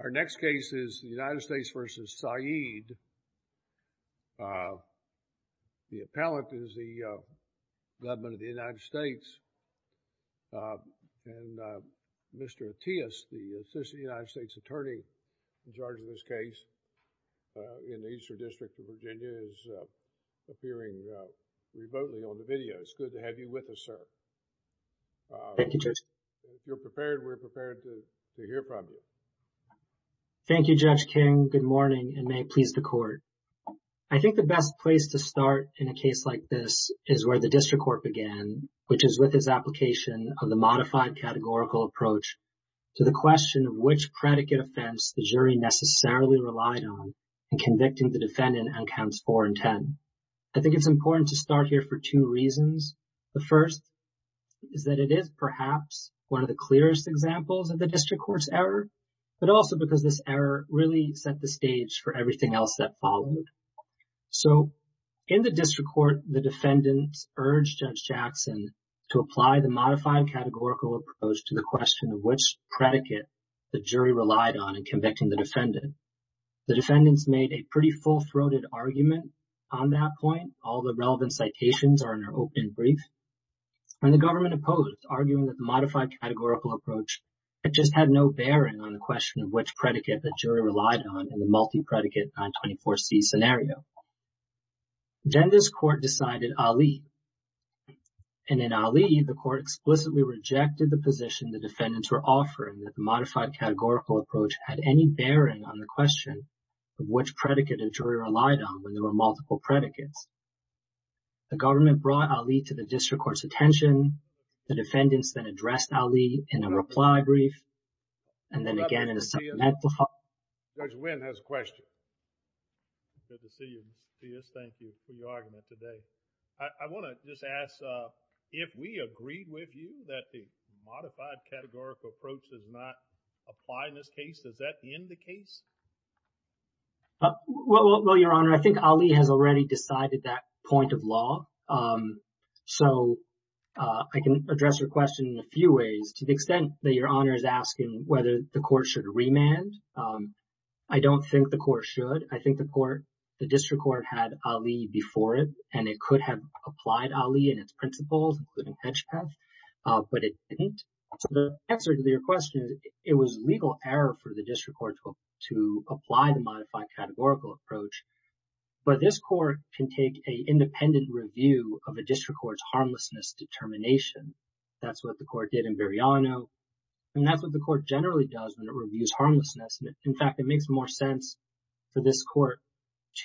Our next case is the United States v. Said. The appellant is the government of the United States and Mr. Attias, the assistant United States attorney in charge of this case in the Eastern District of Virginia, is appearing remotely on the video. It's good to have you with us, sir. Thank you, Judge. You're prepared. We're prepared to hear from you. Thank you, Judge King. Good morning and may it please the court. I think the best place to start in a case like this is where the district court began, which is with his application of the modified categorical approach to the question of which predicate offense the jury necessarily relied on in convicting the defendant on counts 4 and 10. I think it's important to start here for two reasons. The first is that it is perhaps one of the clearest examples of the district court's error, but also because this error really set the stage for everything else that followed. So, in the district court, the defendants urged Judge Jackson to apply the modified categorical approach to the question of which predicate the jury relied on in convicting the defendant. The defendants made a pretty full-throated argument on that point. All the government opposed, arguing that the modified categorical approach just had no bearing on the question of which predicate the jury relied on in the multi-predicate 924C scenario. Then this court decided Ali, and in Ali, the court explicitly rejected the position the defendants were offering that the modified categorical approach had any bearing on the question of which predicate a jury relied on when there were multiple predicates. The government brought Ali to the district court's attention. The defendants then addressed Ali in a reply brief, and then again in a supplemental file. Judge Wynn has a question. Good to see you, Mr. Pius. Thank you for your argument today. I want to just ask, if we agreed with you that the modified categorical approach does not apply in this case, does that end the case? Well, Your Honor, I think Ali has already decided that point of law. So, I can address your question in a few ways. To the extent that Your Honor is asking whether the court should remand, I don't think the court should. I think the court, the district court, had Ali before it, and it could have applied Ali and its principles, including hedge path, but it didn't. So, the answer to your question is it was legal error for the district court to apply the modified categorical approach, but this court can take an independent review of a district court's harmlessness determination. That's what the court did in Biriano, and that's what the court generally does when it reviews harmlessness. In fact, it makes more sense for this court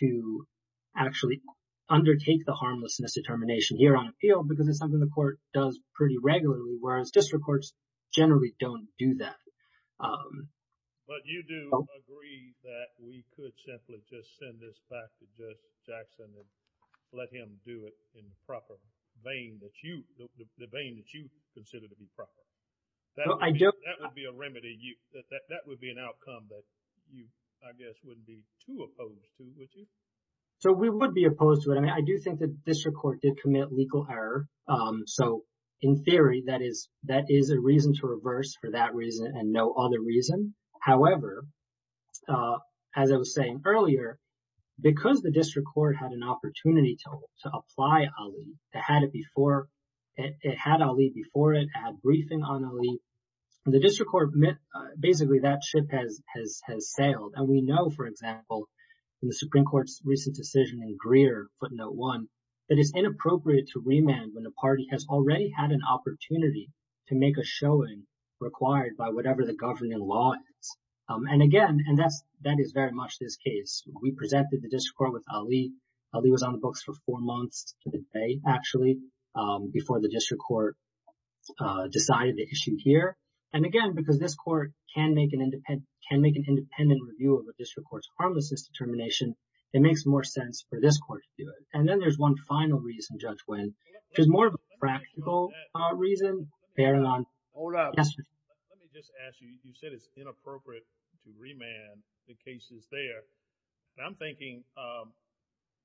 to actually undertake the harmlessness determination here on appeal because it's something the court does pretty regularly, whereas district courts generally don't do that. But you do agree that we could simply just send this back to Judge Jackson and let him do it in the proper vein that you, the vein that you consider to be proper. That would be a remedy, that would be an outcome that you, I guess, wouldn't be too opposed to, would you? So, we would be opposed to it. I mean, I do think that district court did commit legal error. So, in theory, that is a reason to reverse for that reason and no other reason. However, as I was saying earlier, because the district court had an opportunity to apply Ali, it had Ali before it, it had briefing on Ali, the district court basically, that ship has sailed. And we know, for example, in the Supreme Court's recent decision in Greer, footnote one, that it's inappropriate to remand when the party has already had an opportunity to make a showing required by whatever the governing law is. And again, and that is very much this case, we presented the district court with Ali. Ali was on the books for four months to the day, actually, before the district court decided to issue here. And again, because this court can make an independent review of a district court's harmlessness determination, it makes more sense for this court to do it. And then there's one final reason, Judge Wynn, which is more of a practical reason. Hold on. Yes, sir. Let me just ask you, you said it's inappropriate to remand the cases there. And I'm thinking,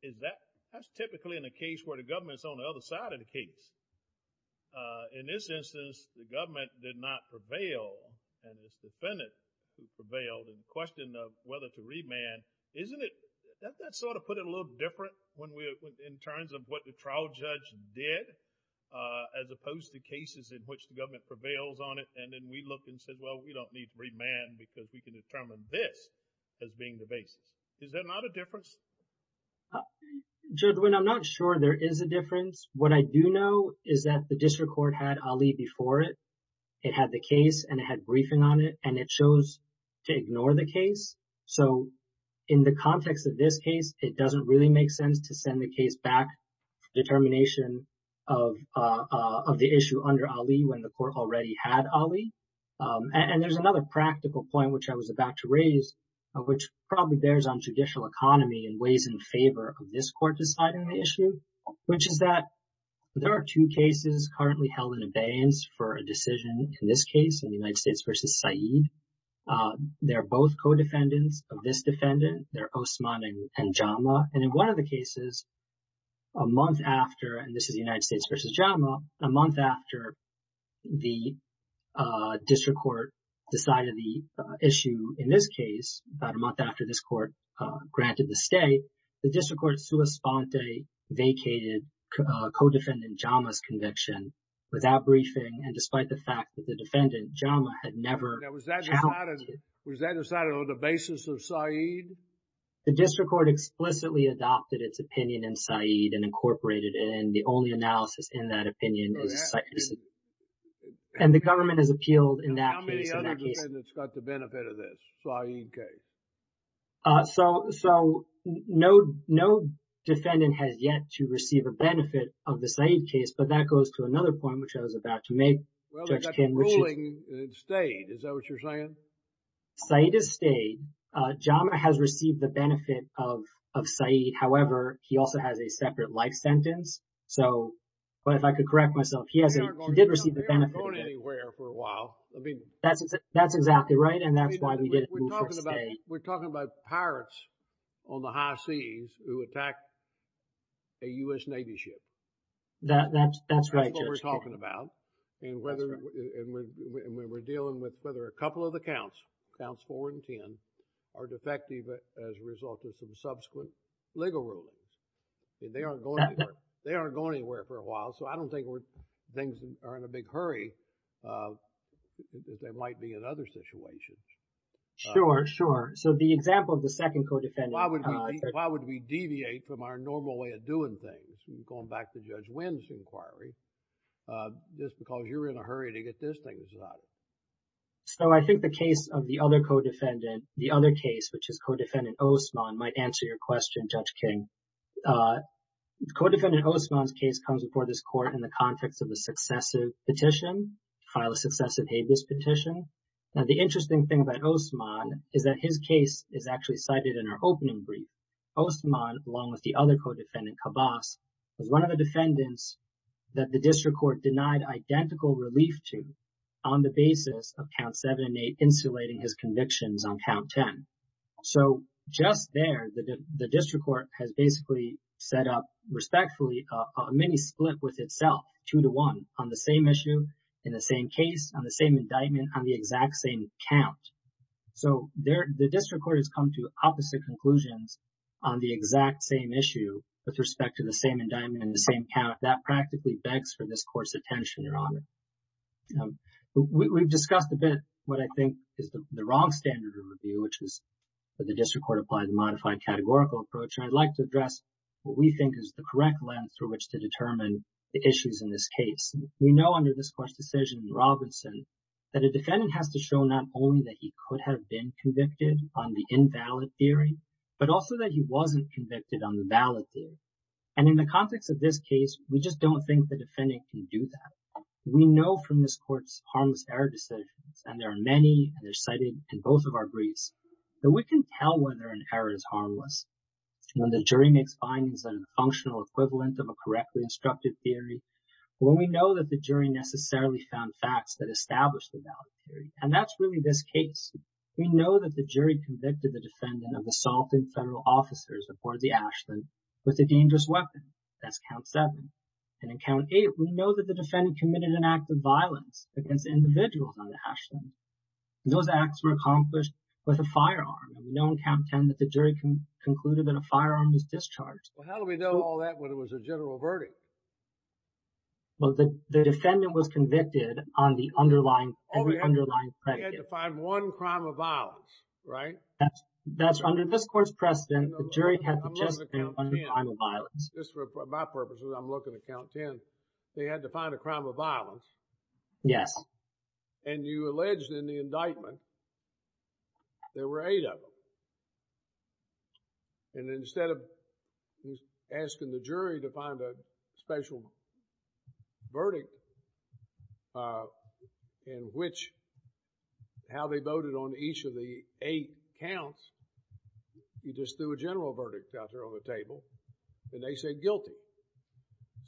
is that, that's typically in a case where the government's on the other side of the case. In this instance, the government did not prevail, and this defendant prevailed, and the question of whether to remand, isn't it, that sort of put it a little different when we, in terms of what the trial judge did, as opposed to cases in which the government prevails on it. And then we looked and said, well, we don't need to remand because we can determine this as being the basis. Is there not a difference? Judge Wynn, I'm not sure there is a difference. What I do know is that the district court had Ali before it. It had the case, and it had briefing on it, and it chose to ignore the case. So, in the context of this case, it doesn't really make sense to send the case back for determination of the issue under Ali when the court already had Ali. And there's another practical point which I was about to raise, which probably bears on judicial economy in ways in favor of this court deciding the issue, which is that there are two cases currently held in abeyance for a decision in this case, in the United States versus Said. They're both co-defendants of this defendant. They're Osman and Jama. And in one of the cases, a month after, and this is the United States versus Jama, a month after the district court decided the issue in this case, about a month after this court granted the stay, the district court, sua sponte, vacated co-defendant Jama's conviction without briefing, and despite the fact that the defendant, Jama, had never challenged it. Was that decided on the basis of Said? The district court explicitly adopted its opinion in Said and incorporated it, and the only analysis in that opinion is Said. And the government has appealed in that case. How many other defendants got the benefit of this Said case? So, no defendant has yet to receive a benefit of the Said case, but that goes to another point, which I was about to make. Well, they got the ruling, and it stayed. Is that what you're saying? Said has stayed. Jama has received the benefit of Said. However, he also has a separate life sentence. So, but if I could correct myself, he did receive the benefit of it. We aren't going anywhere for a while. That's exactly right, and that's why we didn't move for a stay. We're talking about pirates on the high seas who attacked a U.S. Navy ship. That's what we're talking about. And we're dealing with whether a couple of the counts, counts four and ten, are defective as a result of some subsequent legal rulings. They aren't going anywhere for a while, so I don't think things are in a big hurry. They might be in other situations. Sure, sure. So, the example of the second co-defendant. Why would we deviate from our normal way of doing things, going back to Judge Wynn's inquiry, just because you're in a hurry to get this thing decided? So, I think the case of the other co-defendant, the other case, which is Co-defendant Osmond, might answer your question, Judge King. Co-defendant Osmond's case comes before this petition to file a successive habeas petition. Now, the interesting thing about Osmond is that his case is actually cited in our opening brief. Osmond, along with the other co-defendant, Cabas, is one of the defendants that the district court denied identical relief to on the basis of Count 7 and 8 insulating his convictions on Count 10. So, just there, the district court has basically set up, respectfully, a mini-split with itself, two-to-one, on the same issue, in the same case, on the same indictment, on the exact same count. So, the district court has come to opposite conclusions on the exact same issue with respect to the same indictment and the same count. That practically begs for this court's attention, Your Honor. We've discussed a bit what I think is the wrong standard of review, which is that the district court applies a modified categorical approach. And I'd like to address what we think is the correct lens through which to determine the issues in this case. We know under this court's decision in Robinson that a defendant has to show not only that he could have been convicted on the invalid theory, but also that he wasn't convicted on the valid theory. And in the context of this case, we just don't think the defendant can do that. We know from this court's harmless error decisions, and there are many, and they're cited in both of our briefs, that we can tell whether an error is harmless. When the jury makes findings that are functional equivalent of a correctly instructed theory, when we know that the jury necessarily found facts that established the valid theory, and that's really this case, we know that the jury convicted the defendant of assaulting federal officers aboard the Ashland with a dangerous weapon. That's count seven. And in count eight, we know that the defendant committed an act of violence against individuals on the Ashland. Those acts were accomplished with a firearm. We know in count 10 that the jury concluded that a firearm was discharged. Well, how do we know all that when it was a general verdict? Well, the defendant was convicted on the underlying, every underlying predictive. They had to find one crime of violence, right? That's under this court's precedent. The jury had to just find one crime of violence. Just for my purposes, I'm looking at count 10. They had to find a crime of violence. Yes. And you alleged in the indictment there were eight of them. And instead of asking the jury to find a special verdict in which, how they voted on each of the eight counts, you just threw a general verdict out there on the table, and they said guilty.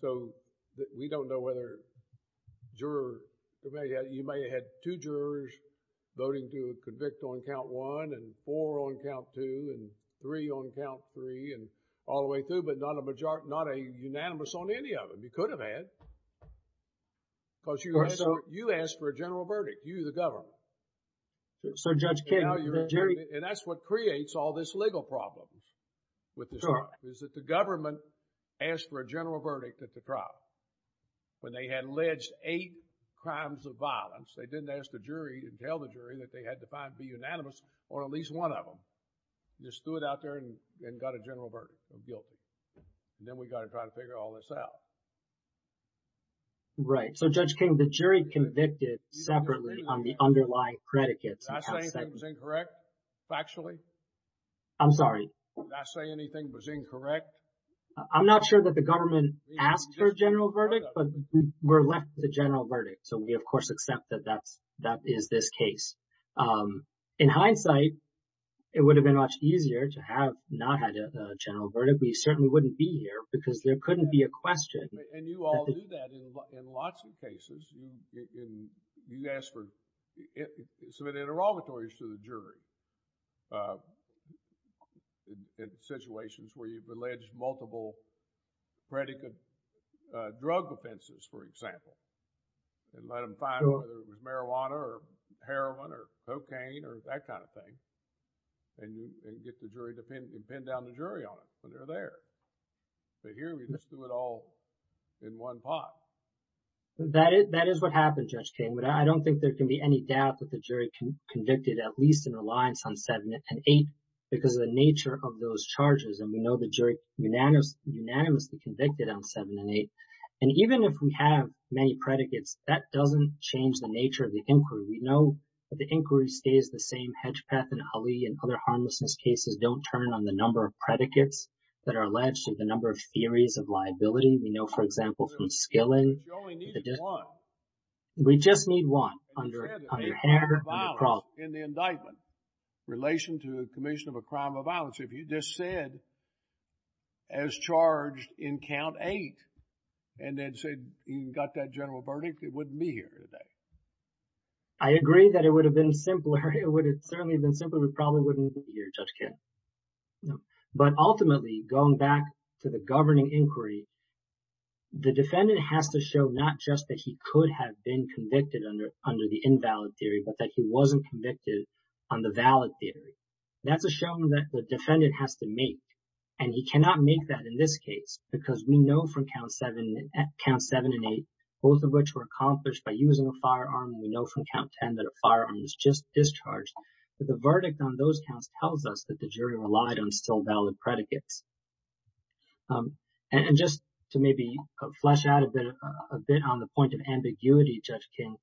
So, we don't know whether jurors, you may have had two jurors voting to convict on count one, and four on count two, and three on count three, and all the way through, but not a unanimous on any of them. You could have had, because you asked for a general verdict. You, the government. So, Judge King, the jury... And that's what creates all this legal problem with this trial, is that the government asked for a general verdict at the trial. When they had alleged eight crimes of violence, they didn't ask the jury and tell the jury that they had to find, be unanimous on at least one of them. They stood out there and got a general verdict of guilty. And then we got to try to figure all this out. Right. So, Judge King, the jury convicted separately on the underlying predicates. Did I say anything that was incorrect, factually? I'm sorry. Did I say anything was incorrect? I'm not sure that the government asked for a general verdict, but we're left with a general verdict. So, we, of course, accept that that is this case. In hindsight, it would have been much easier to have not had a general verdict. We certainly wouldn't be here because there couldn't be a question. And you all do that in lots of cases. You ask for... submit interrogatories to the jury. In situations where you've alleged multiple predicate drug offenses, for example, and let them find whether it was marijuana or heroin or cocaine or that kind of thing, and get the jury to pin down the jury on it when they're there. But here, we just do it all in one pot. That is what happened, Judge King, but I don't think there can be any doubt that the jury convicted at least in reliance on 7 and 8 because of the nature of those charges. And we know the jury unanimously convicted on 7 and 8. And even if we have many predicates, that doesn't change the nature of the inquiry. We know that the inquiry stays the same. Hedgepeth and Ali and other harmlessness cases don't turn on the number of predicates that are alleged and the number of theories of liability. We know, for example, from Skilling... You only need one. We just need one under hair and across... In the indictment in relation to a commission of a crime of violence, if you just said as charged in count 8 and then said you got that general verdict, it wouldn't be here today. I agree that it would have been simpler. It would have certainly been simpler. It probably wouldn't be here, Judge King. But ultimately, going back to the governing inquiry, the defendant has to show not just that he could have been convicted under the invalid theory, but that he wasn't convicted on the valid theory. That's a showing that the defendant has to make. And he cannot make that in this case because we know from count 7 and 8, both of which were accomplished by using a firearm. We know from count 10 that a firearm was just discharged. But the verdict on those counts tells us that the jury relied on still predicates. And just to maybe flesh out a bit on the point of ambiguity, Judge King,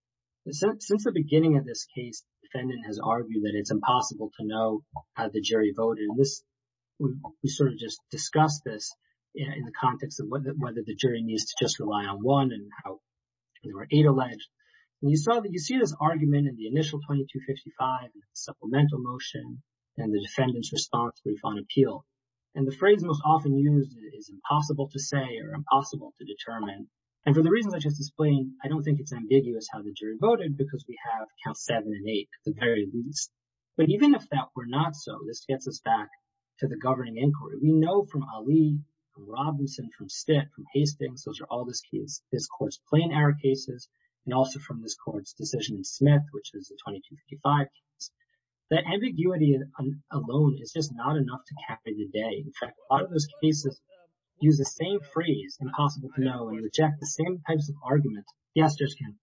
since the beginning of this case, the defendant has argued that it's impossible to know how the jury voted. We sort of just discussed this in the context of whether the jury needs to just rely on one and how there were eight alleged. You see this argument in the initial 2255 with the supplemental motion and the defendant's response brief on appeal. And the phrase most often used is impossible to say or impossible to determine. And for the reasons I just explained, I don't think it's ambiguous how the jury voted because we have count 7 and 8 at the very least. But even if that were not so, this gets us back to the governing inquiry. We know from Ali, from Robinson, from Stitt, from Hastings, those are all this case, this court's plain error cases, and also from this court's decision in Smith, which is the 2255 case. The ambiguity alone is just not enough to cap it today. In fact, a lot of those cases use the same phrase, impossible to know, and reject the same types of arguments. Yes, Judge King?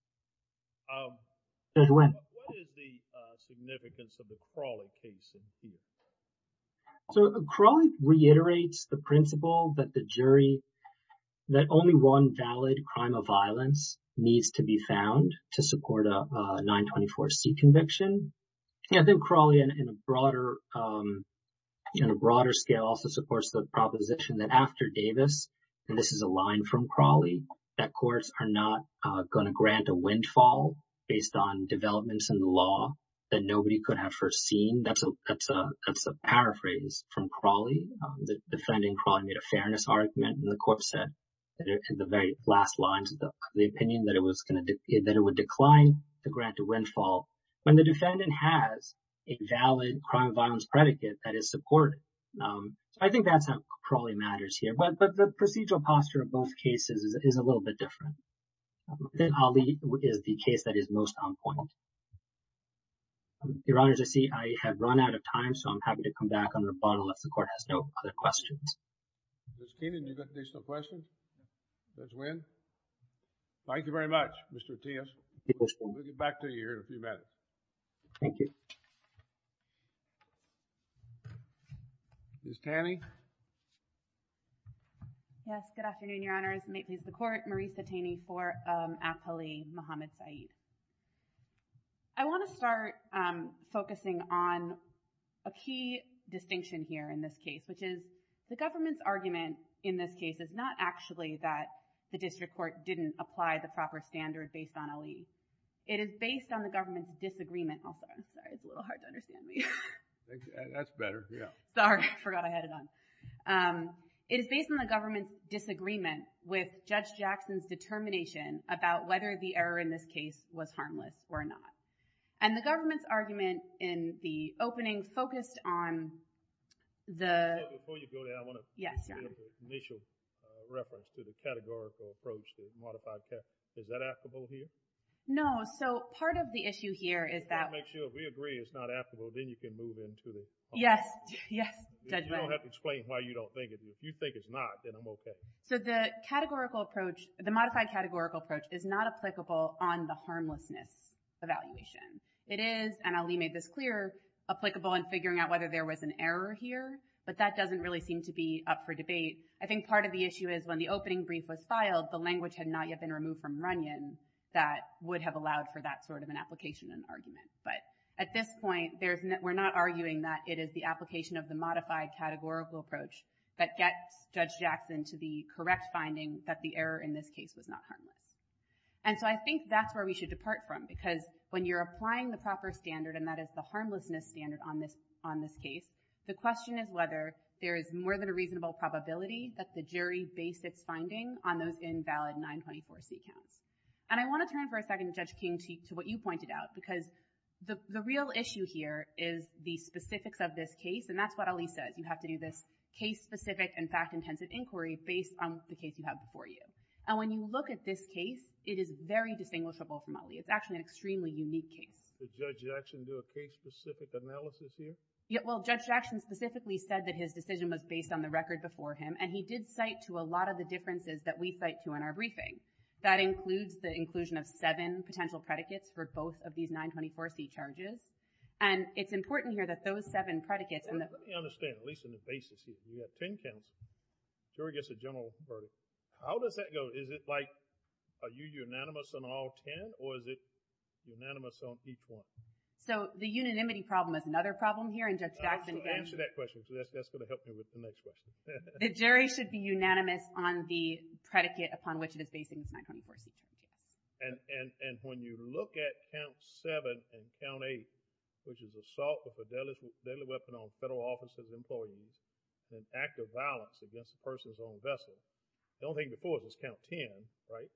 Judge Wynn? What is the significance of the Crawley case in here? So Crawley reiterates the principle that the jury, that only one valid crime of violence needs to be found to support a 924C conviction. Yeah, I think Crawley in a broader scale also supports the proposition that after Davis, and this is a line from Crawley, that courts are not going to grant a windfall based on developments in the law that nobody could have foreseen. That's a paraphrase from Crawley. The defendant in Crawley made a fairness argument, and the court said in the very last lines of the opinion that it would decline to grant a windfall when the defendant has a valid crime of violence predicate that is supported. I think that's how Crawley matters here, but the procedural posture of both cases is a little bit different. I think Ali is the case that is most on point. Your Honor, as I see, I have run out of time, so I'm happy to come back on the questions. Ms. Keenan, do you have additional questions? Ms. Wynn? Thank you very much, Mr. Tias. We'll get back to you in a few minutes. Thank you. Ms. Taney? Yes, good afternoon, Your Honors. May it please the Court, Marisa Taney for Ali Mohammed Saeed. I want to start focusing on a key distinction here in this case, which is the government's argument in this case is not actually that the district court didn't apply the proper standard based on Ali. It is based on the government's disagreement with Judge Jackson's determination about whether the district court should apply the proper standard based on Ali's determination. Before you go there, I want to make an initial reference to the categorical approach to modified categories. Is that applicable here? No, so part of the issue here is that— That makes sure if we agree it's not applicable, then you can move into the— Yes, yes, Judge Wynn. You don't have to explain why you don't think it is. If you think it's not, then I'm okay. So the categorical approach, the modified categorical approach is not applicable on harmlessness evaluation. It is, and Ali made this clear, applicable in figuring out whether there was an error here, but that doesn't really seem to be up for debate. I think part of the issue is when the opening brief was filed, the language had not yet been removed from Runyon that would have allowed for that sort of an application and argument. But at this point, we're not arguing that it is the application of the modified categorical approach that gets Judge Jackson to the correct finding that the error in this case was not And I want to turn for a second, Judge King, to what you pointed out, because the real issue here is the specifics of this case, and that's what Ali says. You have to do this case-specific and fact-intensive inquiry based on the case you have before you. And when you look at this case, it is very distinguishable from Ali. It's actually an extremely unique case. Did Judge Jackson do a case-specific analysis here? Yeah, well, Judge Jackson specifically said that his decision was based on the record before him, and he did cite to a lot of the differences that we cite to in our briefing. That includes the inclusion of seven potential predicates for both of these 924C charges. And it's important here that those seven predicates— Let me understand, at least on the basis you have 10 counts, jury gets a general verdict. How does that go? Is it like, are you unanimous on all 10, or is it unanimous on each one? So, the unanimity problem is another problem here, and Judge Jackson— Answer that question, because that's going to help me with the next question. The jury should be unanimous on the predicate upon which it is basing its 924C charges. And when you look at count 7 and count 8, which is assault with a deadly weapon on an act of violence against a person's own vessel, don't think the fourth is count 10, right?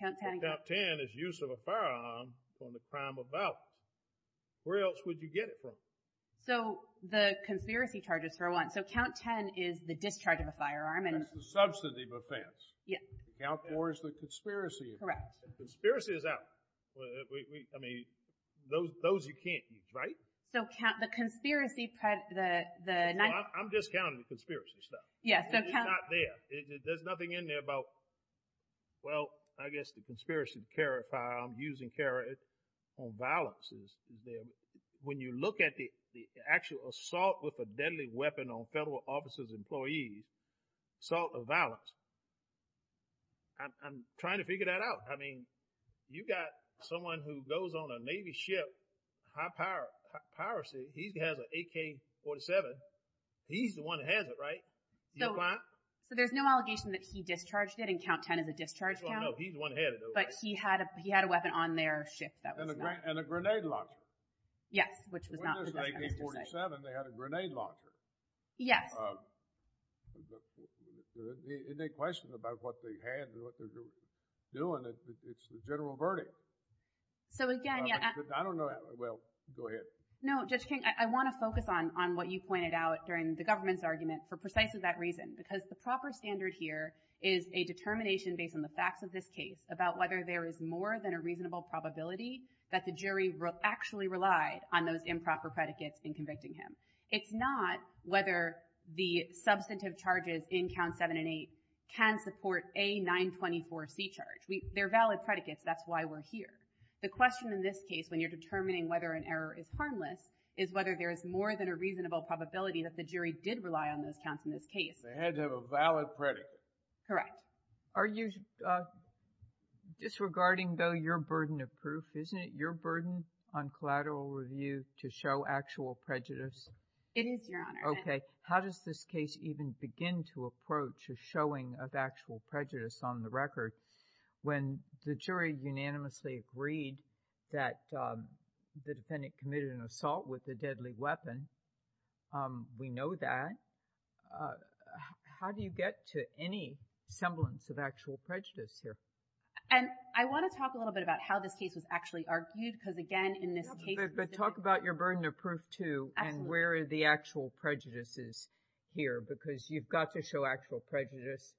Count 10 is use of a firearm for the crime of violence. Where else would you get it from? So, the conspiracy charges for one. So, count 10 is the discharge of a firearm and— That's the substantive offense. Yeah. Count 4 is the conspiracy. Correct. Conspiracy is out. I mean, those you can't use, right? So, count the conspiracy— I'm just counting the conspiracy stuff. Yeah, so count— It's not there. There's nothing in there about, well, I guess the conspiracy to carry a firearm, using carry it on violence. When you look at the actual assault with a deadly weapon on federal officers' employees, assault of violence, I'm trying to figure that out. I mean, you've got someone who goes on a Navy ship, high power, piracy. He has an AK-47. He's the one that has it, right? Do you comply? So, there's no allegation that he discharged it, and count 10 is a discharge count. Well, no, he's the one that had it, though, right? But he had a weapon on their ship that was not— And a grenade launcher. Yes, which was not— When it was an AK-47, they had a grenade launcher. Yes. So, any questions about what they had and what they were doing? It's a general verdict. So, again— I don't know— Well, go ahead. No, Judge King, I want to focus on what you pointed out during the government's argument for precisely that reason, because the proper standard here is a determination based on the facts of this case about whether there is more than a reasonable probability that the jury actually relied on those improper predicates in convicting him. It's not whether the substantive charges in counts 7 and 8 can support a 924C charge. They're valid predicates. That's why we're here. The question in this case, when you're determining whether an error is harmless, is whether there is more than a reasonable probability that the jury did rely on those counts in this case. They had to have a valid predicate. Correct. Are you disregarding, though, your burden of proof? Isn't it your burden on collateral review to show actual prejudice? It is, Your Honor. Okay. How does this case even begin to approach a showing of actual prejudice on the record when the jury unanimously agreed that the defendant committed an assault with a deadly weapon? Um, we know that. How do you get to any semblance of actual prejudice here? And I want to talk a little bit about how this case was actually argued, because again, in this case— But talk about your burden of proof, too, and where are the actual prejudices here, because you've got to show actual prejudice.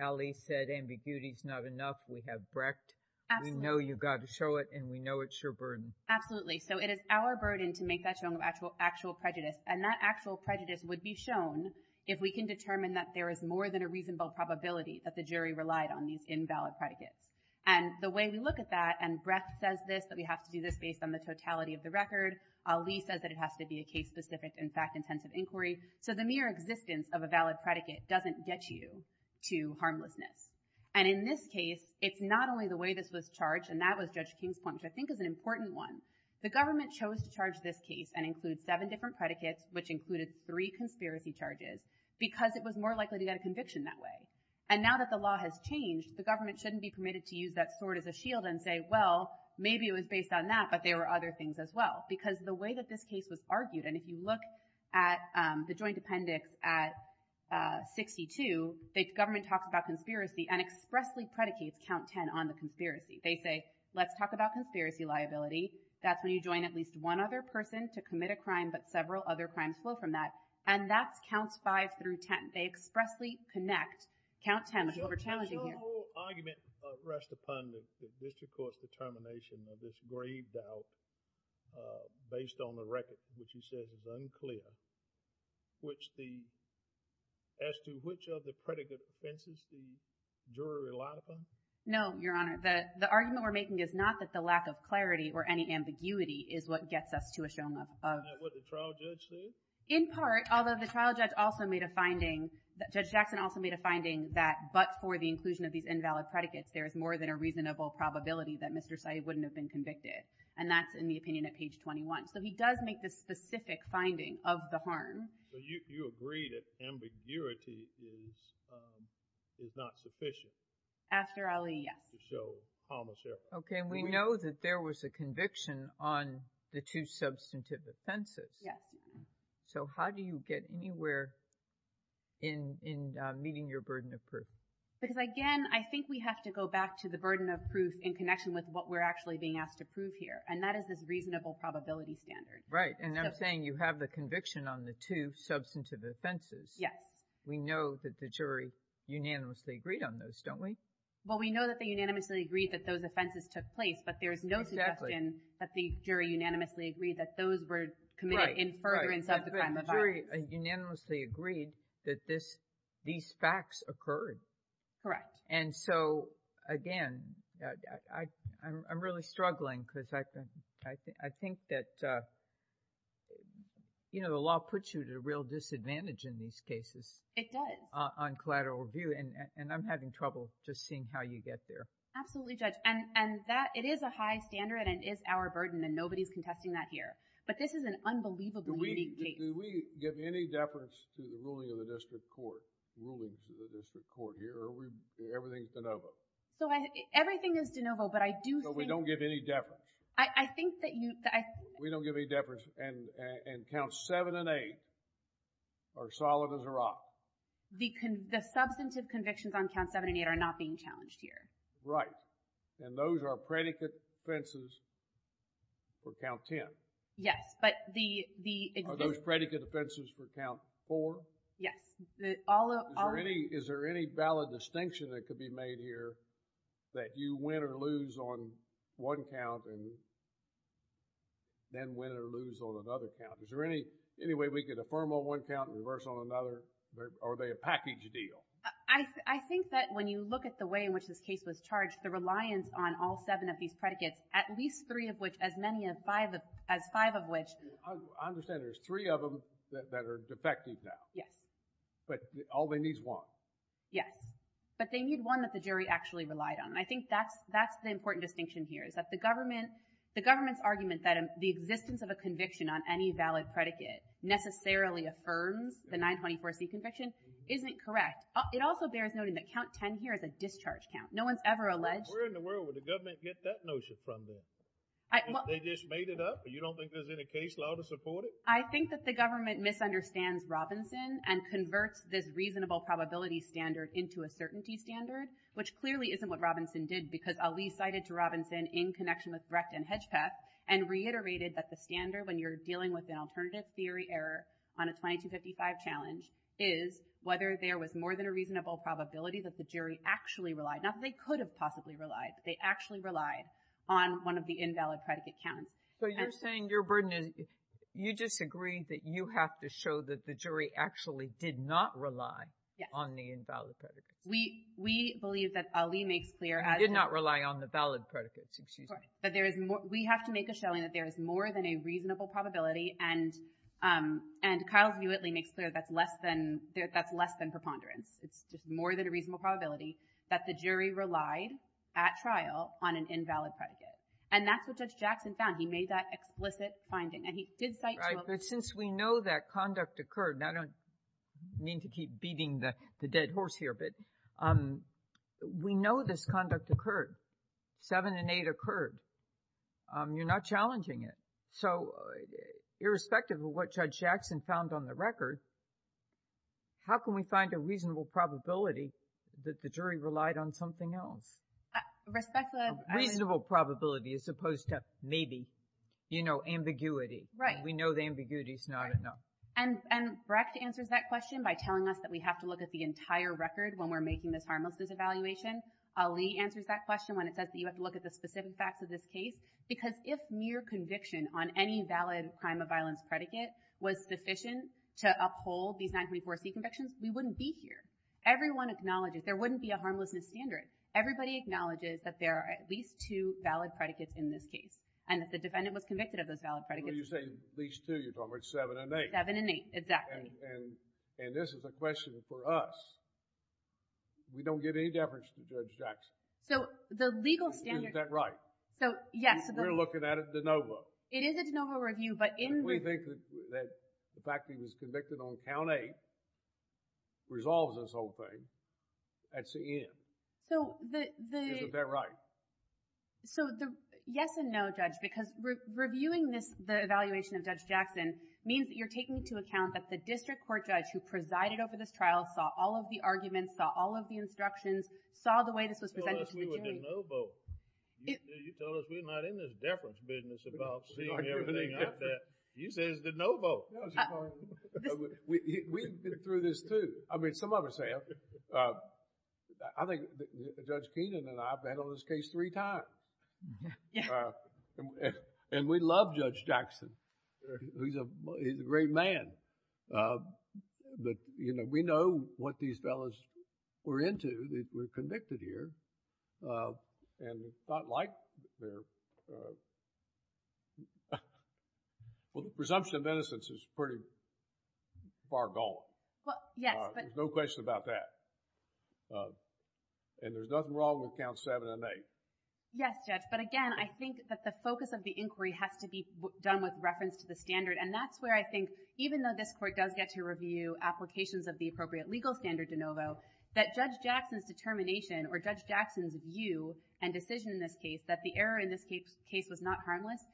Ali said ambiguity's not enough. We have Brecht. Absolutely. We know you've got to show it, and we know it's your burden. Absolutely. So it is our burden to make that show of actual prejudice, and that actual prejudice would be shown if we can determine that there is more than a reasonable probability that the jury relied on these invalid predicates. And the way we look at that—and Brecht says this, that we have to do this based on the totality of the record. Ali says that it has to be a case-specific and fact-intensive inquiry. So the mere existence of a valid predicate doesn't get you to harmlessness. And in this case, it's not only the way this was charged—and that was Judge King's point, which I think is an important one—the government chose to charge this case and include seven different predicates, which included three conspiracy charges, because it was more likely to get a conviction that way. And now that the law has changed, the government shouldn't be permitted to use that sword as a shield and say, well, maybe it was based on that, but there were other things as well. Because the way that this case was argued—and if you look at the joint appendix at 62, the government talks about conspiracy and expressly predicates count 10 on the conspiracy. They say, let's talk about conspiracy liability. That's when you join at least one other person to commit a crime, but several other crimes flow from that. And that's counts 5 through 10. They expressly connect count 10, which is what we're challenging here. Does your whole argument rest upon the district court's determination that this grave doubt, based on the record that you said is unclear, which the—as to which of the predicate offenses the jury relied upon? No, Your Honor. The argument we're making is not that the lack of clarity or any ambiguity is what gets us to a showing of— Isn't that what the trial judge said? In part, although the trial judge also made a finding—Judge Jackson also made a finding that but for the inclusion of these invalid predicates, there is more than a reasonable probability that Mr. Sayeed wouldn't have been convicted. And that's in the opinion at page 21. So he does make this specific finding of the harm. So you agree that ambiguity is not sufficient? After Ali, yes. So Thomas, yes. Okay. We know that there was a conviction on the two substantive offenses. So how do you get anywhere in meeting your burden of proof? Because again, I think we have to go back to the burden of proof in connection with what we're actually being asked to prove here. And that is this reasonable probability standard. Right. And I'm saying you have the conviction on the two substantive offenses. Yes. We know that the jury unanimously agreed on those, don't we? Well, we know that they unanimously agreed that those offenses took place, but there is no suggestion that the jury unanimously agreed that those were committed in furtherance of the crime of harm. The jury unanimously agreed that these facts occurred. Correct. And so again, I'm really struggling because I think that, you know, the law puts you at a real disadvantage in these cases. It does. On collateral review, and I'm having trouble just seeing how you get there. Absolutely, Judge. And that, it is a high standard and it is our burden, and nobody's contesting that here. But this is an unbelievably unique case. Do we give any deference to the ruling of the district court, ruling of the district court here, or everything is de novo? So everything is de novo, but I do think... So we don't give any deference? I think that you... We don't give any deference, and Counts 7 and 8 are solid as a rock. The substantive convictions on Counts 7 and 8 are not being challenged here. Right. And those are predicate offenses for Count 10? Yes, but the... Are those predicate offenses for Count 4? Yes. All of... Is there any valid distinction that could be made here that you win or lose on one count and then win or lose on another count? Is there any way we could affirm on one count and reverse on another? Are they a package deal? I think that when you look at the way in which this case was charged, the reliance on all seven of these predicates, at least three of which, as many as five of which... I understand there's three of them that are defective now. Yes. But all they need is one. Yes. But they need one that the jury actually relied on. I think that's the important distinction here, is that the government's argument that the existence of a conviction on any valid predicate necessarily affirms the 924C conviction isn't correct. It also bears noting that Count 10 here is a discharge count. No one's ever alleged... Where in the world would the government get that notion from then? They just made it up, but you don't think there's any case law to support it? I think that the government misunderstands Robinson and converts this reasonable probability standard into a certainty standard, which clearly isn't what Robinson did, because Ali cited to Robinson in connection with Brecht and Hedgepeth and reiterated that the standard, when you're dealing with an alternative theory error on a 2255 challenge, is whether there was more than a reasonable probability that the jury actually relied... Not that they could have possibly relied, but they actually relied on one of the invalid predicate counts. So you're saying your burden is... We believe that Ali makes clear as... He did not rely on the valid predicates, excuse me. But there is more... We have to make a showing that there is more than a reasonable probability and Kyle's newly makes clear that's less than preponderance. It's just more than a reasonable probability that the jury relied at trial on an invalid predicate. And that's what Judge Jackson found. He made that explicit finding and he did cite... Right, but since we know that conduct occurred, and I don't mean to keep beating the dead horse here, but we know this conduct occurred. Seven and eight occurred. You're not challenging it. So irrespective of what Judge Jackson found on the record, how can we find a reasonable probability that the jury relied on something else? Respect the... Reasonable probability as opposed to maybe, you know, ambiguity. Right. We know the ambiguity is not enough. And Brecht answers that question by telling us that we have to look at the entire record when we're making this harmlessness evaluation. Ali answers that question when it says that you have to look at the specific facts of this case because if mere conviction on any valid crime of violence predicate was sufficient to uphold these 924C convictions, we wouldn't be here. Everyone acknowledges... There wouldn't be a harmlessness standard. Everybody acknowledges that there are at least two valid predicates in this case and if the defendant was convicted of those valid predicates... When you say at least two, you're talking about seven and eight. Seven and eight, exactly. And this is a question for us. We don't give any deference to Judge Jackson. So, the legal standard... Isn't that right? So, yes. We're looking at it de novo. It is a de novo review, but in... We think that the fact that he was convicted on count eight resolves this whole thing at the end. So, the... Isn't that right? So, the yes and no, Judge, because reviewing the evaluation of Judge Jackson means that you're taking into account that the district court judge who presided over this trial saw all of the arguments, saw all of the instructions, saw the way this was presented to the jury. You told us we were de novo. You told us we're not in this deference business about seeing everything like that. You said it's de novo. We've been through this too. I mean, some of us have. I think Judge Keenan and I have handled this case three times. And we love Judge Jackson. He's a great man. But, you know, we know what these fellows were into. They were convicted here. And not like... Well, the presumption of innocence is pretty far gone. Well, yes, but... There's no question about that. And there's nothing wrong with count seven and eight. Yes, Judge. But again, I think that the focus of the inquiry has to be done with reference to the standard. And that's where I think, even though this court does get to review applications of the appropriate legal standard de novo, that Judge Jackson's determination or Judge Jackson's view and decision in this case, that the error in this case was not harmless,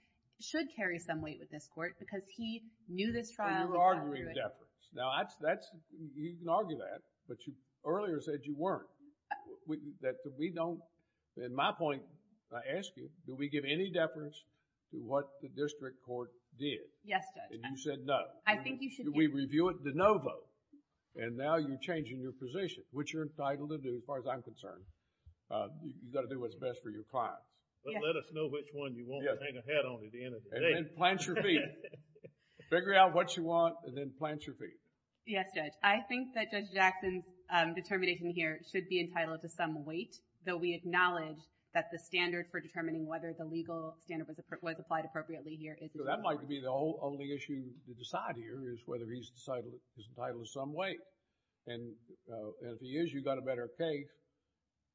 should carry some weight with this court because he knew this trial... But you're arguing deference. Now, you can argue that, but you earlier said you weren't. In my point, I ask you, do we give any deference to what the district court did? Yes, Judge. And you said no. I think you should... We review it de novo. And now you're changing your position, which you're entitled to do as far as I'm concerned. You've got to do what's best for your clients. But let us know which one you want to hang a hat on at the end of the day. And then plant your feet. Figure out what you want and then plant your feet. Yes, Judge. I think that Judge Jackson's determination here should be entitled to some weight, though we acknowledge that the standard for determining whether the legal standard was applied appropriately here... So that might be the only issue to decide here is whether he's entitled to some weight. And if he is, you've got a better case.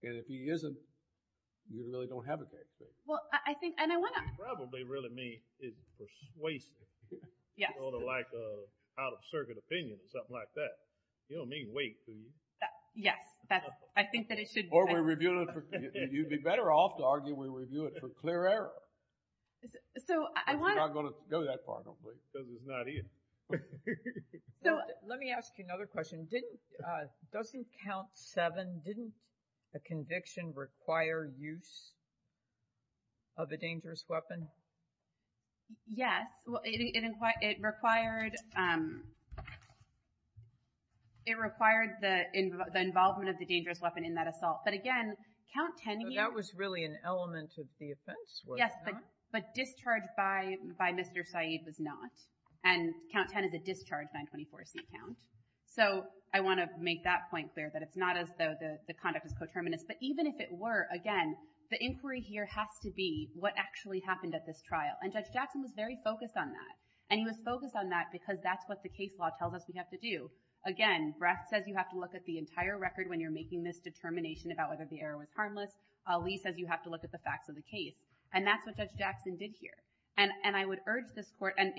And if he isn't, you really don't have a case. Well, I think... And I want to... You probably really mean it's persuasive. Yes. Sort of like an out-of-circuit opinion or something like that. You don't mean weight, do you? Yes, I think that it should... Or we review it for... You'd be better off to argue we review it for clear error. So I want to... But you're not going to go that far, don't you? Because it's not in. Let me ask you another question. Doesn't count seven... Didn't a conviction require use of a dangerous weapon? Yes, it required the involvement of the dangerous weapon in that assault. But again, count 10 here... That was really an element of the offense, was it not? Yes, but discharged by Mr. Saeed was not. And count 10 is a discharged 924C count. So I want to make that point clear, that it's not as though the conduct is coterminous. But even if it were, again, the inquiry here has to be what actually happened at this trial. And Judge Jackson was very focused on that. And he was focused on that because that's what the case law tells us we have to do. Again, Brett says you have to look at the entire record when you're making this determination about whether the error was harmless. Ali says you have to look at the facts of the case. And that's what Judge Jackson did here. And I would urge this court... And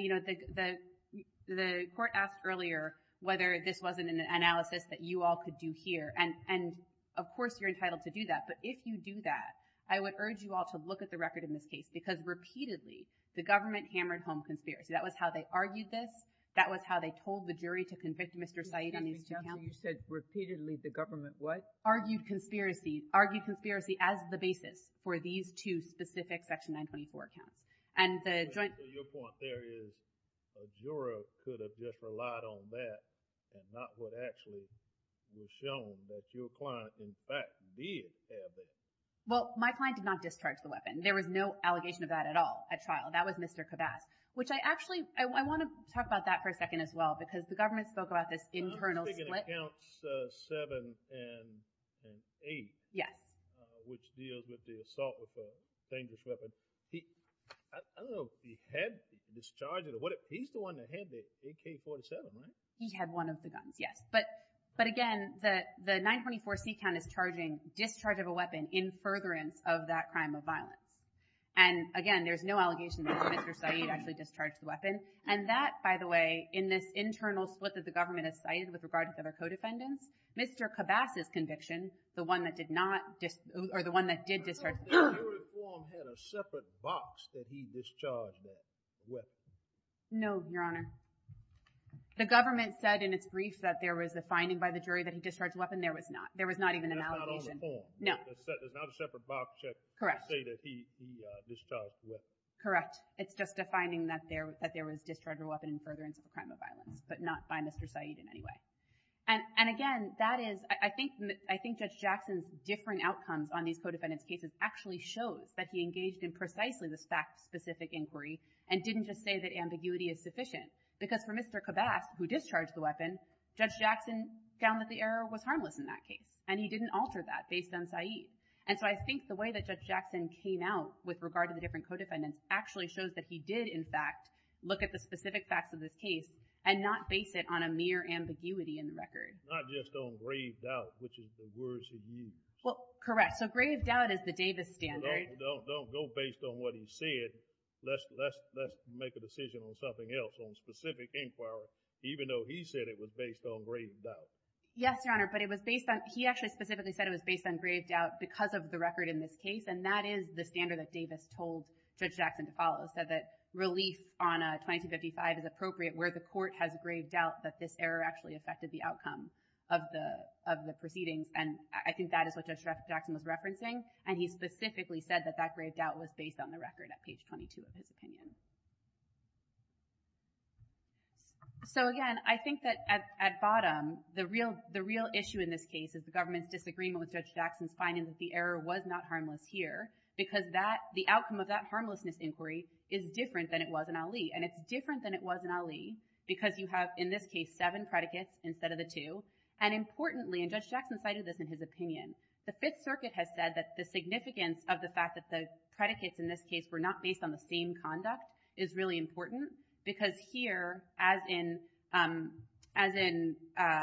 the court asked earlier whether this wasn't an analysis that you all could do here. And of course, you're entitled to do that. But if you do that, I would urge you all to look at the record in this case. Because repeatedly, the government hammered home conspiracy. That was how they argued this. That was how they told the jury to convict Mr. Saeed. You said repeatedly the government what? Argued conspiracy. Argued conspiracy as the basis for these two specific Section 924 accounts. And the joint... Your point there is a juror could have just relied on that and not what actually was shown that your client, in fact, did have it. Well, my client did not discharge the weapon. There was no allegation of that at all at trial. That was Mr. Kabbas, which I actually... I want to talk about that for a second as well because the government spoke about this internal split. I'm thinking accounts 7 and 8. Yes. Which deals with the assault with a dangerous weapon. He... I don't know if he had discharged it or what. He's the one that had the AK-47, right? He had one of the guns, yes. But again, the 924 C-count is charging discharge of a weapon in furtherance of that crime of violence. And again, there's no allegation that Mr. Saeed actually discharged the weapon. And that, by the way, in this internal split that the government has cited with regard to other co-defendants, Mr. Kabbas's conviction, the one that did not... or the one that did discharge... Your reform had a separate box that he discharged the weapon. No, Your Honor. The government said in its brief that there was a finding by the jury that he discharged the weapon. There was not. There was not even an allegation. It's not on the form. No. It's not a separate box that says that he discharged the weapon. Correct. It's just a finding that there was discharge of a weapon in furtherance of a crime of violence, but not by Mr. Saeed in any way. And again, that is... I think Judge Jackson's differing outcomes on these co-defendants' cases actually shows that he engaged in precisely this fact-specific inquiry and didn't just say that ambiguity is sufficient. Because for Mr. Kabbas, who discharged the weapon, Judge Jackson found that the error was harmless in that case, and he didn't alter that based on Saeed. And so I think the way that Judge Jackson came out with regard to the different co-defendants actually shows that he did, in fact, look at the specific facts of this case and not base it on a mere ambiguity in the record. Not just on grave doubt, which is the words he used. Well, correct. So grave doubt is the Davis standard. Don't go based on what he said. Let's make a decision on something else, on specific inquiry, even though he said it was based on grave doubt. Yes, Your Honor, but it was based on... He actually specifically said it was based on grave doubt because of the record in this case, and that is the standard that Davis told Judge Jackson to follow. Said that relief on 2255 is appropriate where the court has grave doubt that this error actually affected the outcome of the proceedings. And I think that is what Judge Jackson was referencing, and he specifically said that that grave doubt was based on the record at page 22 of his opinion. So again, I think that at bottom, the real issue in this case is the government's disagreement with Judge Jackson's finding that the error was not harmless here because the outcome of that harmlessness inquiry is different than it was in Ali. And it's different than it was in Ali because you have, in this case, seven predicates instead of the two. And importantly, and Judge Jackson cited this in his opinion, the Fifth Circuit has said that the significance of the fact that the predicates in this case were not based on the same conduct is really important because here, as in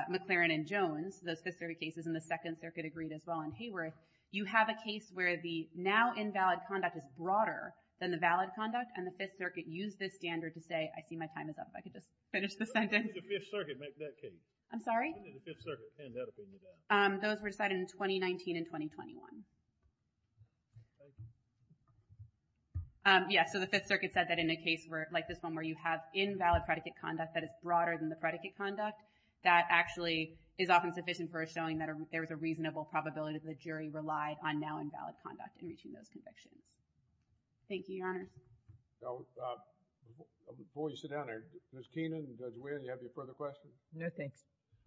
McLaren and Jones, those specific cases in the Second Circuit agreed as well in Hayworth, you have a case where the now-invalid conduct is broader than the valid conduct, and the Fifth Circuit used this standard to say, I see my time is up. I could just finish the sentence. When did the Fifth Circuit make that case? I'm sorry? When did the Fifth Circuit pen that opinion down? Those were decided in 2019 and 2021. Yeah, so the Fifth Circuit said that in a case where, like this one, where you have invalid predicate conduct that is broader than the predicate conduct, that actually is often sufficient for showing that there is a reasonable probability that the jury relied on now-invalid conduct in reaching those convictions. Thank you, Your Honor. So, before you sit down there, Ms. Keenan, Judge Whalen, do you have any further questions? No, thanks.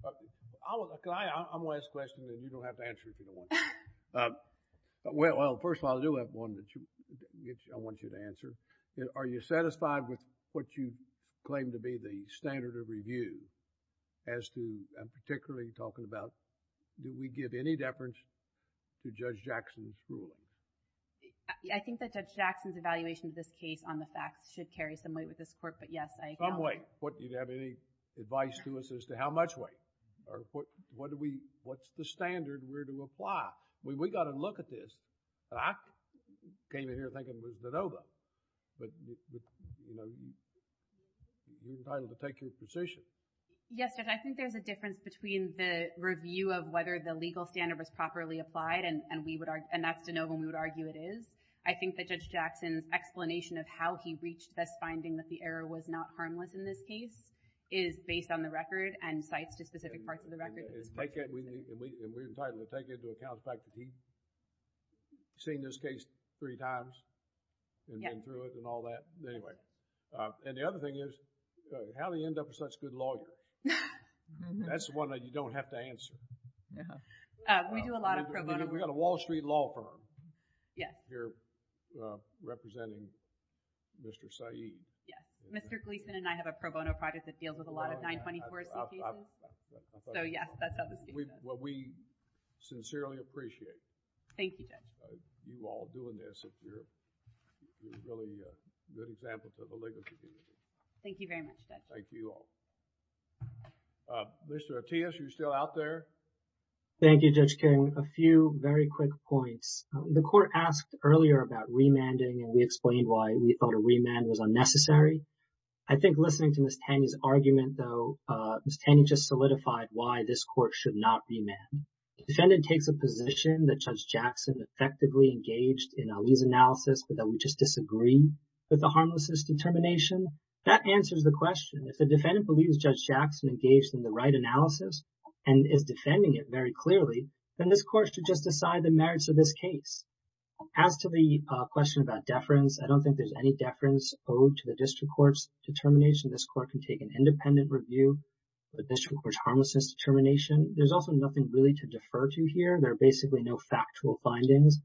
I'm going to ask a question and you don't have to answer it if you don't want to. Well, first of all, I do have one that I want you to answer. Are you satisfied with what you claim to be the standard of review as to, I'm particularly talking about, do we give any deference to Judge Jackson's ruling? I think that Judge Jackson's evaluation of this case on the facts should carry some weight with this court, but yes, I agree. Some weight. What, do you have any advice to us as to how much weight? Or what do we, what's the standard we're to apply? We've got to look at this. I came in here thinking it was the Nova, but, you know, you're entitled to take your position. Yes, Judge, I think there's a difference between the review of whether the legal standard was properly applied and we would, and that's to know when we would argue it is. I think that Judge Jackson's explanation of how he reached this finding that the error was not harmless in this case is based on the record and cites to specific parts of the record. And we're entitled to take into account the fact that he's seen this case three times and been through it and all that. Anyway, and the other thing is, how do you end up with such good lawyer? That's one that you don't have to answer. We do a lot of pro bono. We've got a Wall Street law firm here representing Mr. Saeed. Yes. Mr. Gleason and I have a pro bono project that deals with a lot of 924 cases. So, yes, that doesn't speak to us. Well, we sincerely appreciate you all doing this. If you're really a good example for the legal community. Thank you very much, Judge. Thank you all. Mr. Ortiz, are you still out there? Thank you, Judge King. A few very quick points. The court asked earlier about remanding and we explained why we thought a remand was unnecessary. I think listening to Ms. Taney's argument, though, Ms. Taney just solidified why this court should not remand. The defendant takes a position that Judge Jackson effectively engaged in Ali's analysis, but that we just disagree with the harmlessness determination. That answers the question. If the defendant believes Judge Jackson engaged in the right analysis and is defending it very clearly, then this court should just decide the merits of this case. As to the question about deference, I don't think there's any deference owed to the district court's determination. This court can take an independent review of the district court's harmlessness determination. There's also nothing really to defer to here. There are basically no factual findings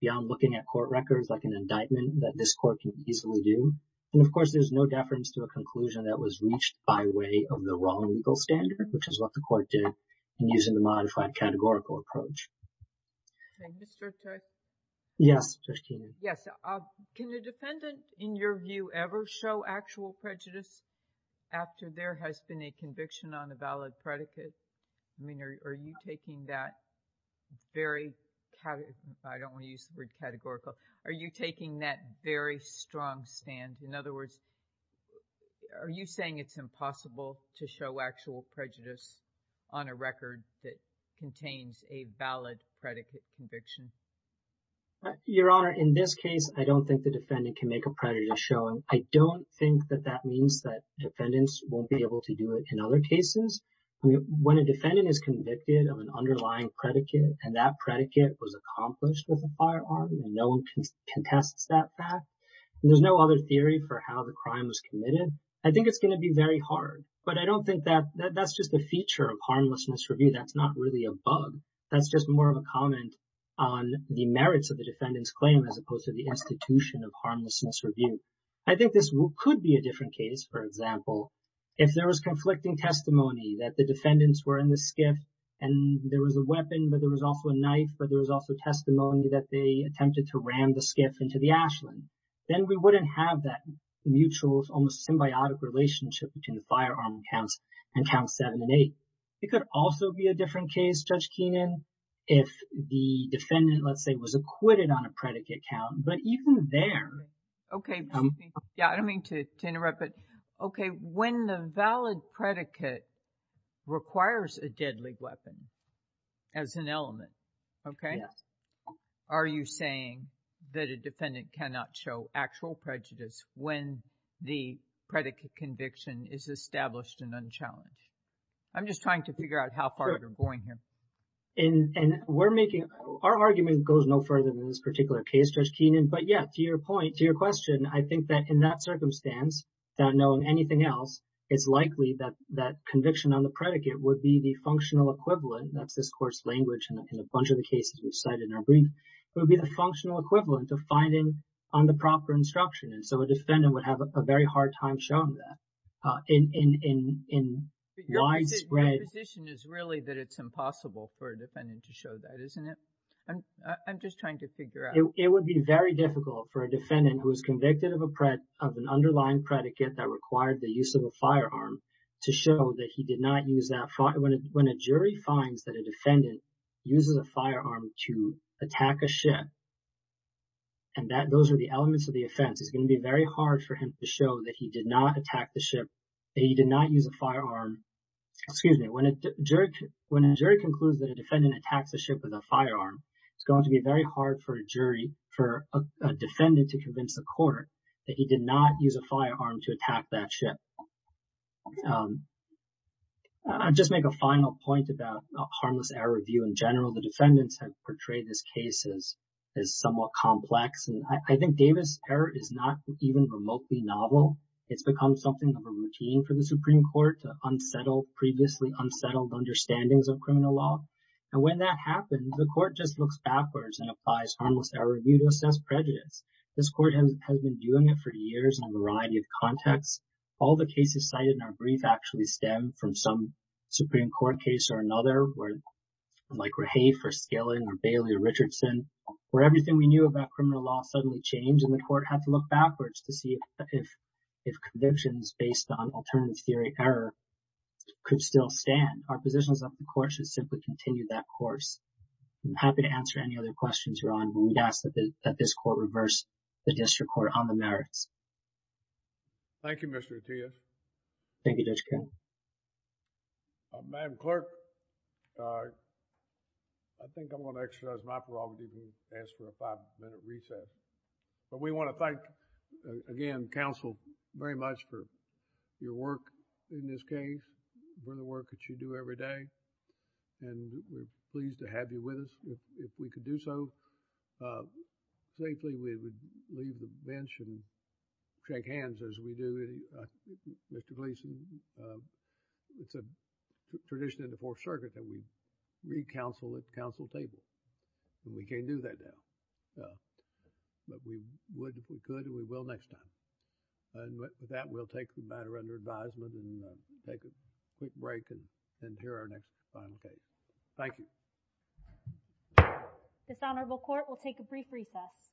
beyond looking at court records like an indictment that this court can easily do. And of course, there's no deference to a conclusion that was reached by way of the wrong legal standard, which is what the court did in using the modified categorical approach. Okay, Mr. Judge? Yes, Judge Taney. Yes, can the defendant, in your view, ever show actual prejudice after there has been a conviction on a valid predicate? I mean, are you taking that very, I don't want to use the word categorical, are you taking that very strong stand? In other words, are you saying it's impossible to show actual prejudice on a record that contains a valid predicate conviction? Your Honor, in this case, I don't think the defendant can make a prejudice showing. I don't think that that means that defendants won't be able to do it in other cases. When a defendant is convicted of an underlying predicate and that predicate was accomplished with a firearm, no one contests that fact. There's no other theory for how the crime was committed. I think it's going to be very hard, but I don't think that that's just a feature of harmlessness review. That's not really a bug. That's just more of a comment on the merits of the defendant's claim as opposed to the institution of harmlessness review. I think this could be a different case, for example, if there was conflicting testimony that the defendants were in the skiff and there was a weapon, but there was also a knife, but there was also testimony that they attempted to ram the skiff into the ashland. Then we wouldn't have that mutual, almost symbiotic relationship between the firearm counts and count seven and eight. It could also be a different case, Judge Keenan, if the defendant, let's say, was acquitted on a predicate count, but even there. Okay. Yeah, I don't mean to interrupt, but okay, when the valid predicate requires a deadly weapon as an element, okay, are you saying that a defendant cannot show actual prejudice when the predicate conviction is established and unchallenged? I'm just trying to figure out how far we're going here. And we're making, our argument goes no further than this particular case, Judge Keenan, but yeah, to your point, to your question, I think that in that circumstance, without knowing anything else, it's likely that conviction on the predicate would be the functional equivalent, that's this course language in a bunch of the cases we've cited in our brief, would be the functional equivalent of finding on the proper instruction. And so a defendant would have a very hard time showing that in widespread... Your position is really that it's impossible for a defendant to show that, isn't it? I'm just trying to figure out. It would be very difficult for a defendant who is convicted of a pred, of an underlying predicate that required the use of a firearm to show that he did not use that... When a jury finds that a defendant uses a firearm to attack a ship, and that those are the elements of the offense, it's going to be very hard for him to show that he did not attack the ship, that he did not use a firearm. Excuse me, when a jury concludes that a defendant attacks a ship with a firearm, it's going to be very hard for a jury, for a defendant to convince the court that he did not use a firearm to attack that ship. I'll just make a final point about harmless error review in general. The defendants have portrayed this case as somewhat complex, and I think Davis' error is not even remotely novel. It's become something of a routine for the Supreme Court to unsettle previously unsettled understandings of criminal law. And when that happens, the court just looks backwards and applies harmless error review to assess prejudice. This court has been doing it for years in a variety of contexts. All the cases cited in our brief actually stem from some Supreme Court case where, like Rahafe or Skilling or Bailey or Richardson, where everything we knew about criminal law suddenly changed and the court had to look backwards to see if convictions based on alternative theory error could still stand. Our position is that the court should simply continue that course. I'm happy to answer any other questions, Your Honor, when we'd ask that this court reverse the district court on the merits. THE COURT Thank you, Mr. Ortiz. MR. ORTIZ Thank you, Judge Kennedy. THE COURT THE COURT Madam Clerk, I think I'm going to exercise my prerogative to ask for a five-minute recess. But we want to thank, again, counsel very much for your work in this case, for the work that you do every day. And we're pleased to have you with us. If we could do so safely, we would leave the bench and shake hands as we do. Mr. Gleason, it's a tradition in the Fourth Circuit that we read counsel at the counsel table. And we can't do that now. But we would if we could, and we will next time. And with that, we'll take the matter under advisement and take a quick break and hear our next final case. Thank you. THE COURT Dishonorable Court, we'll take a brief recess.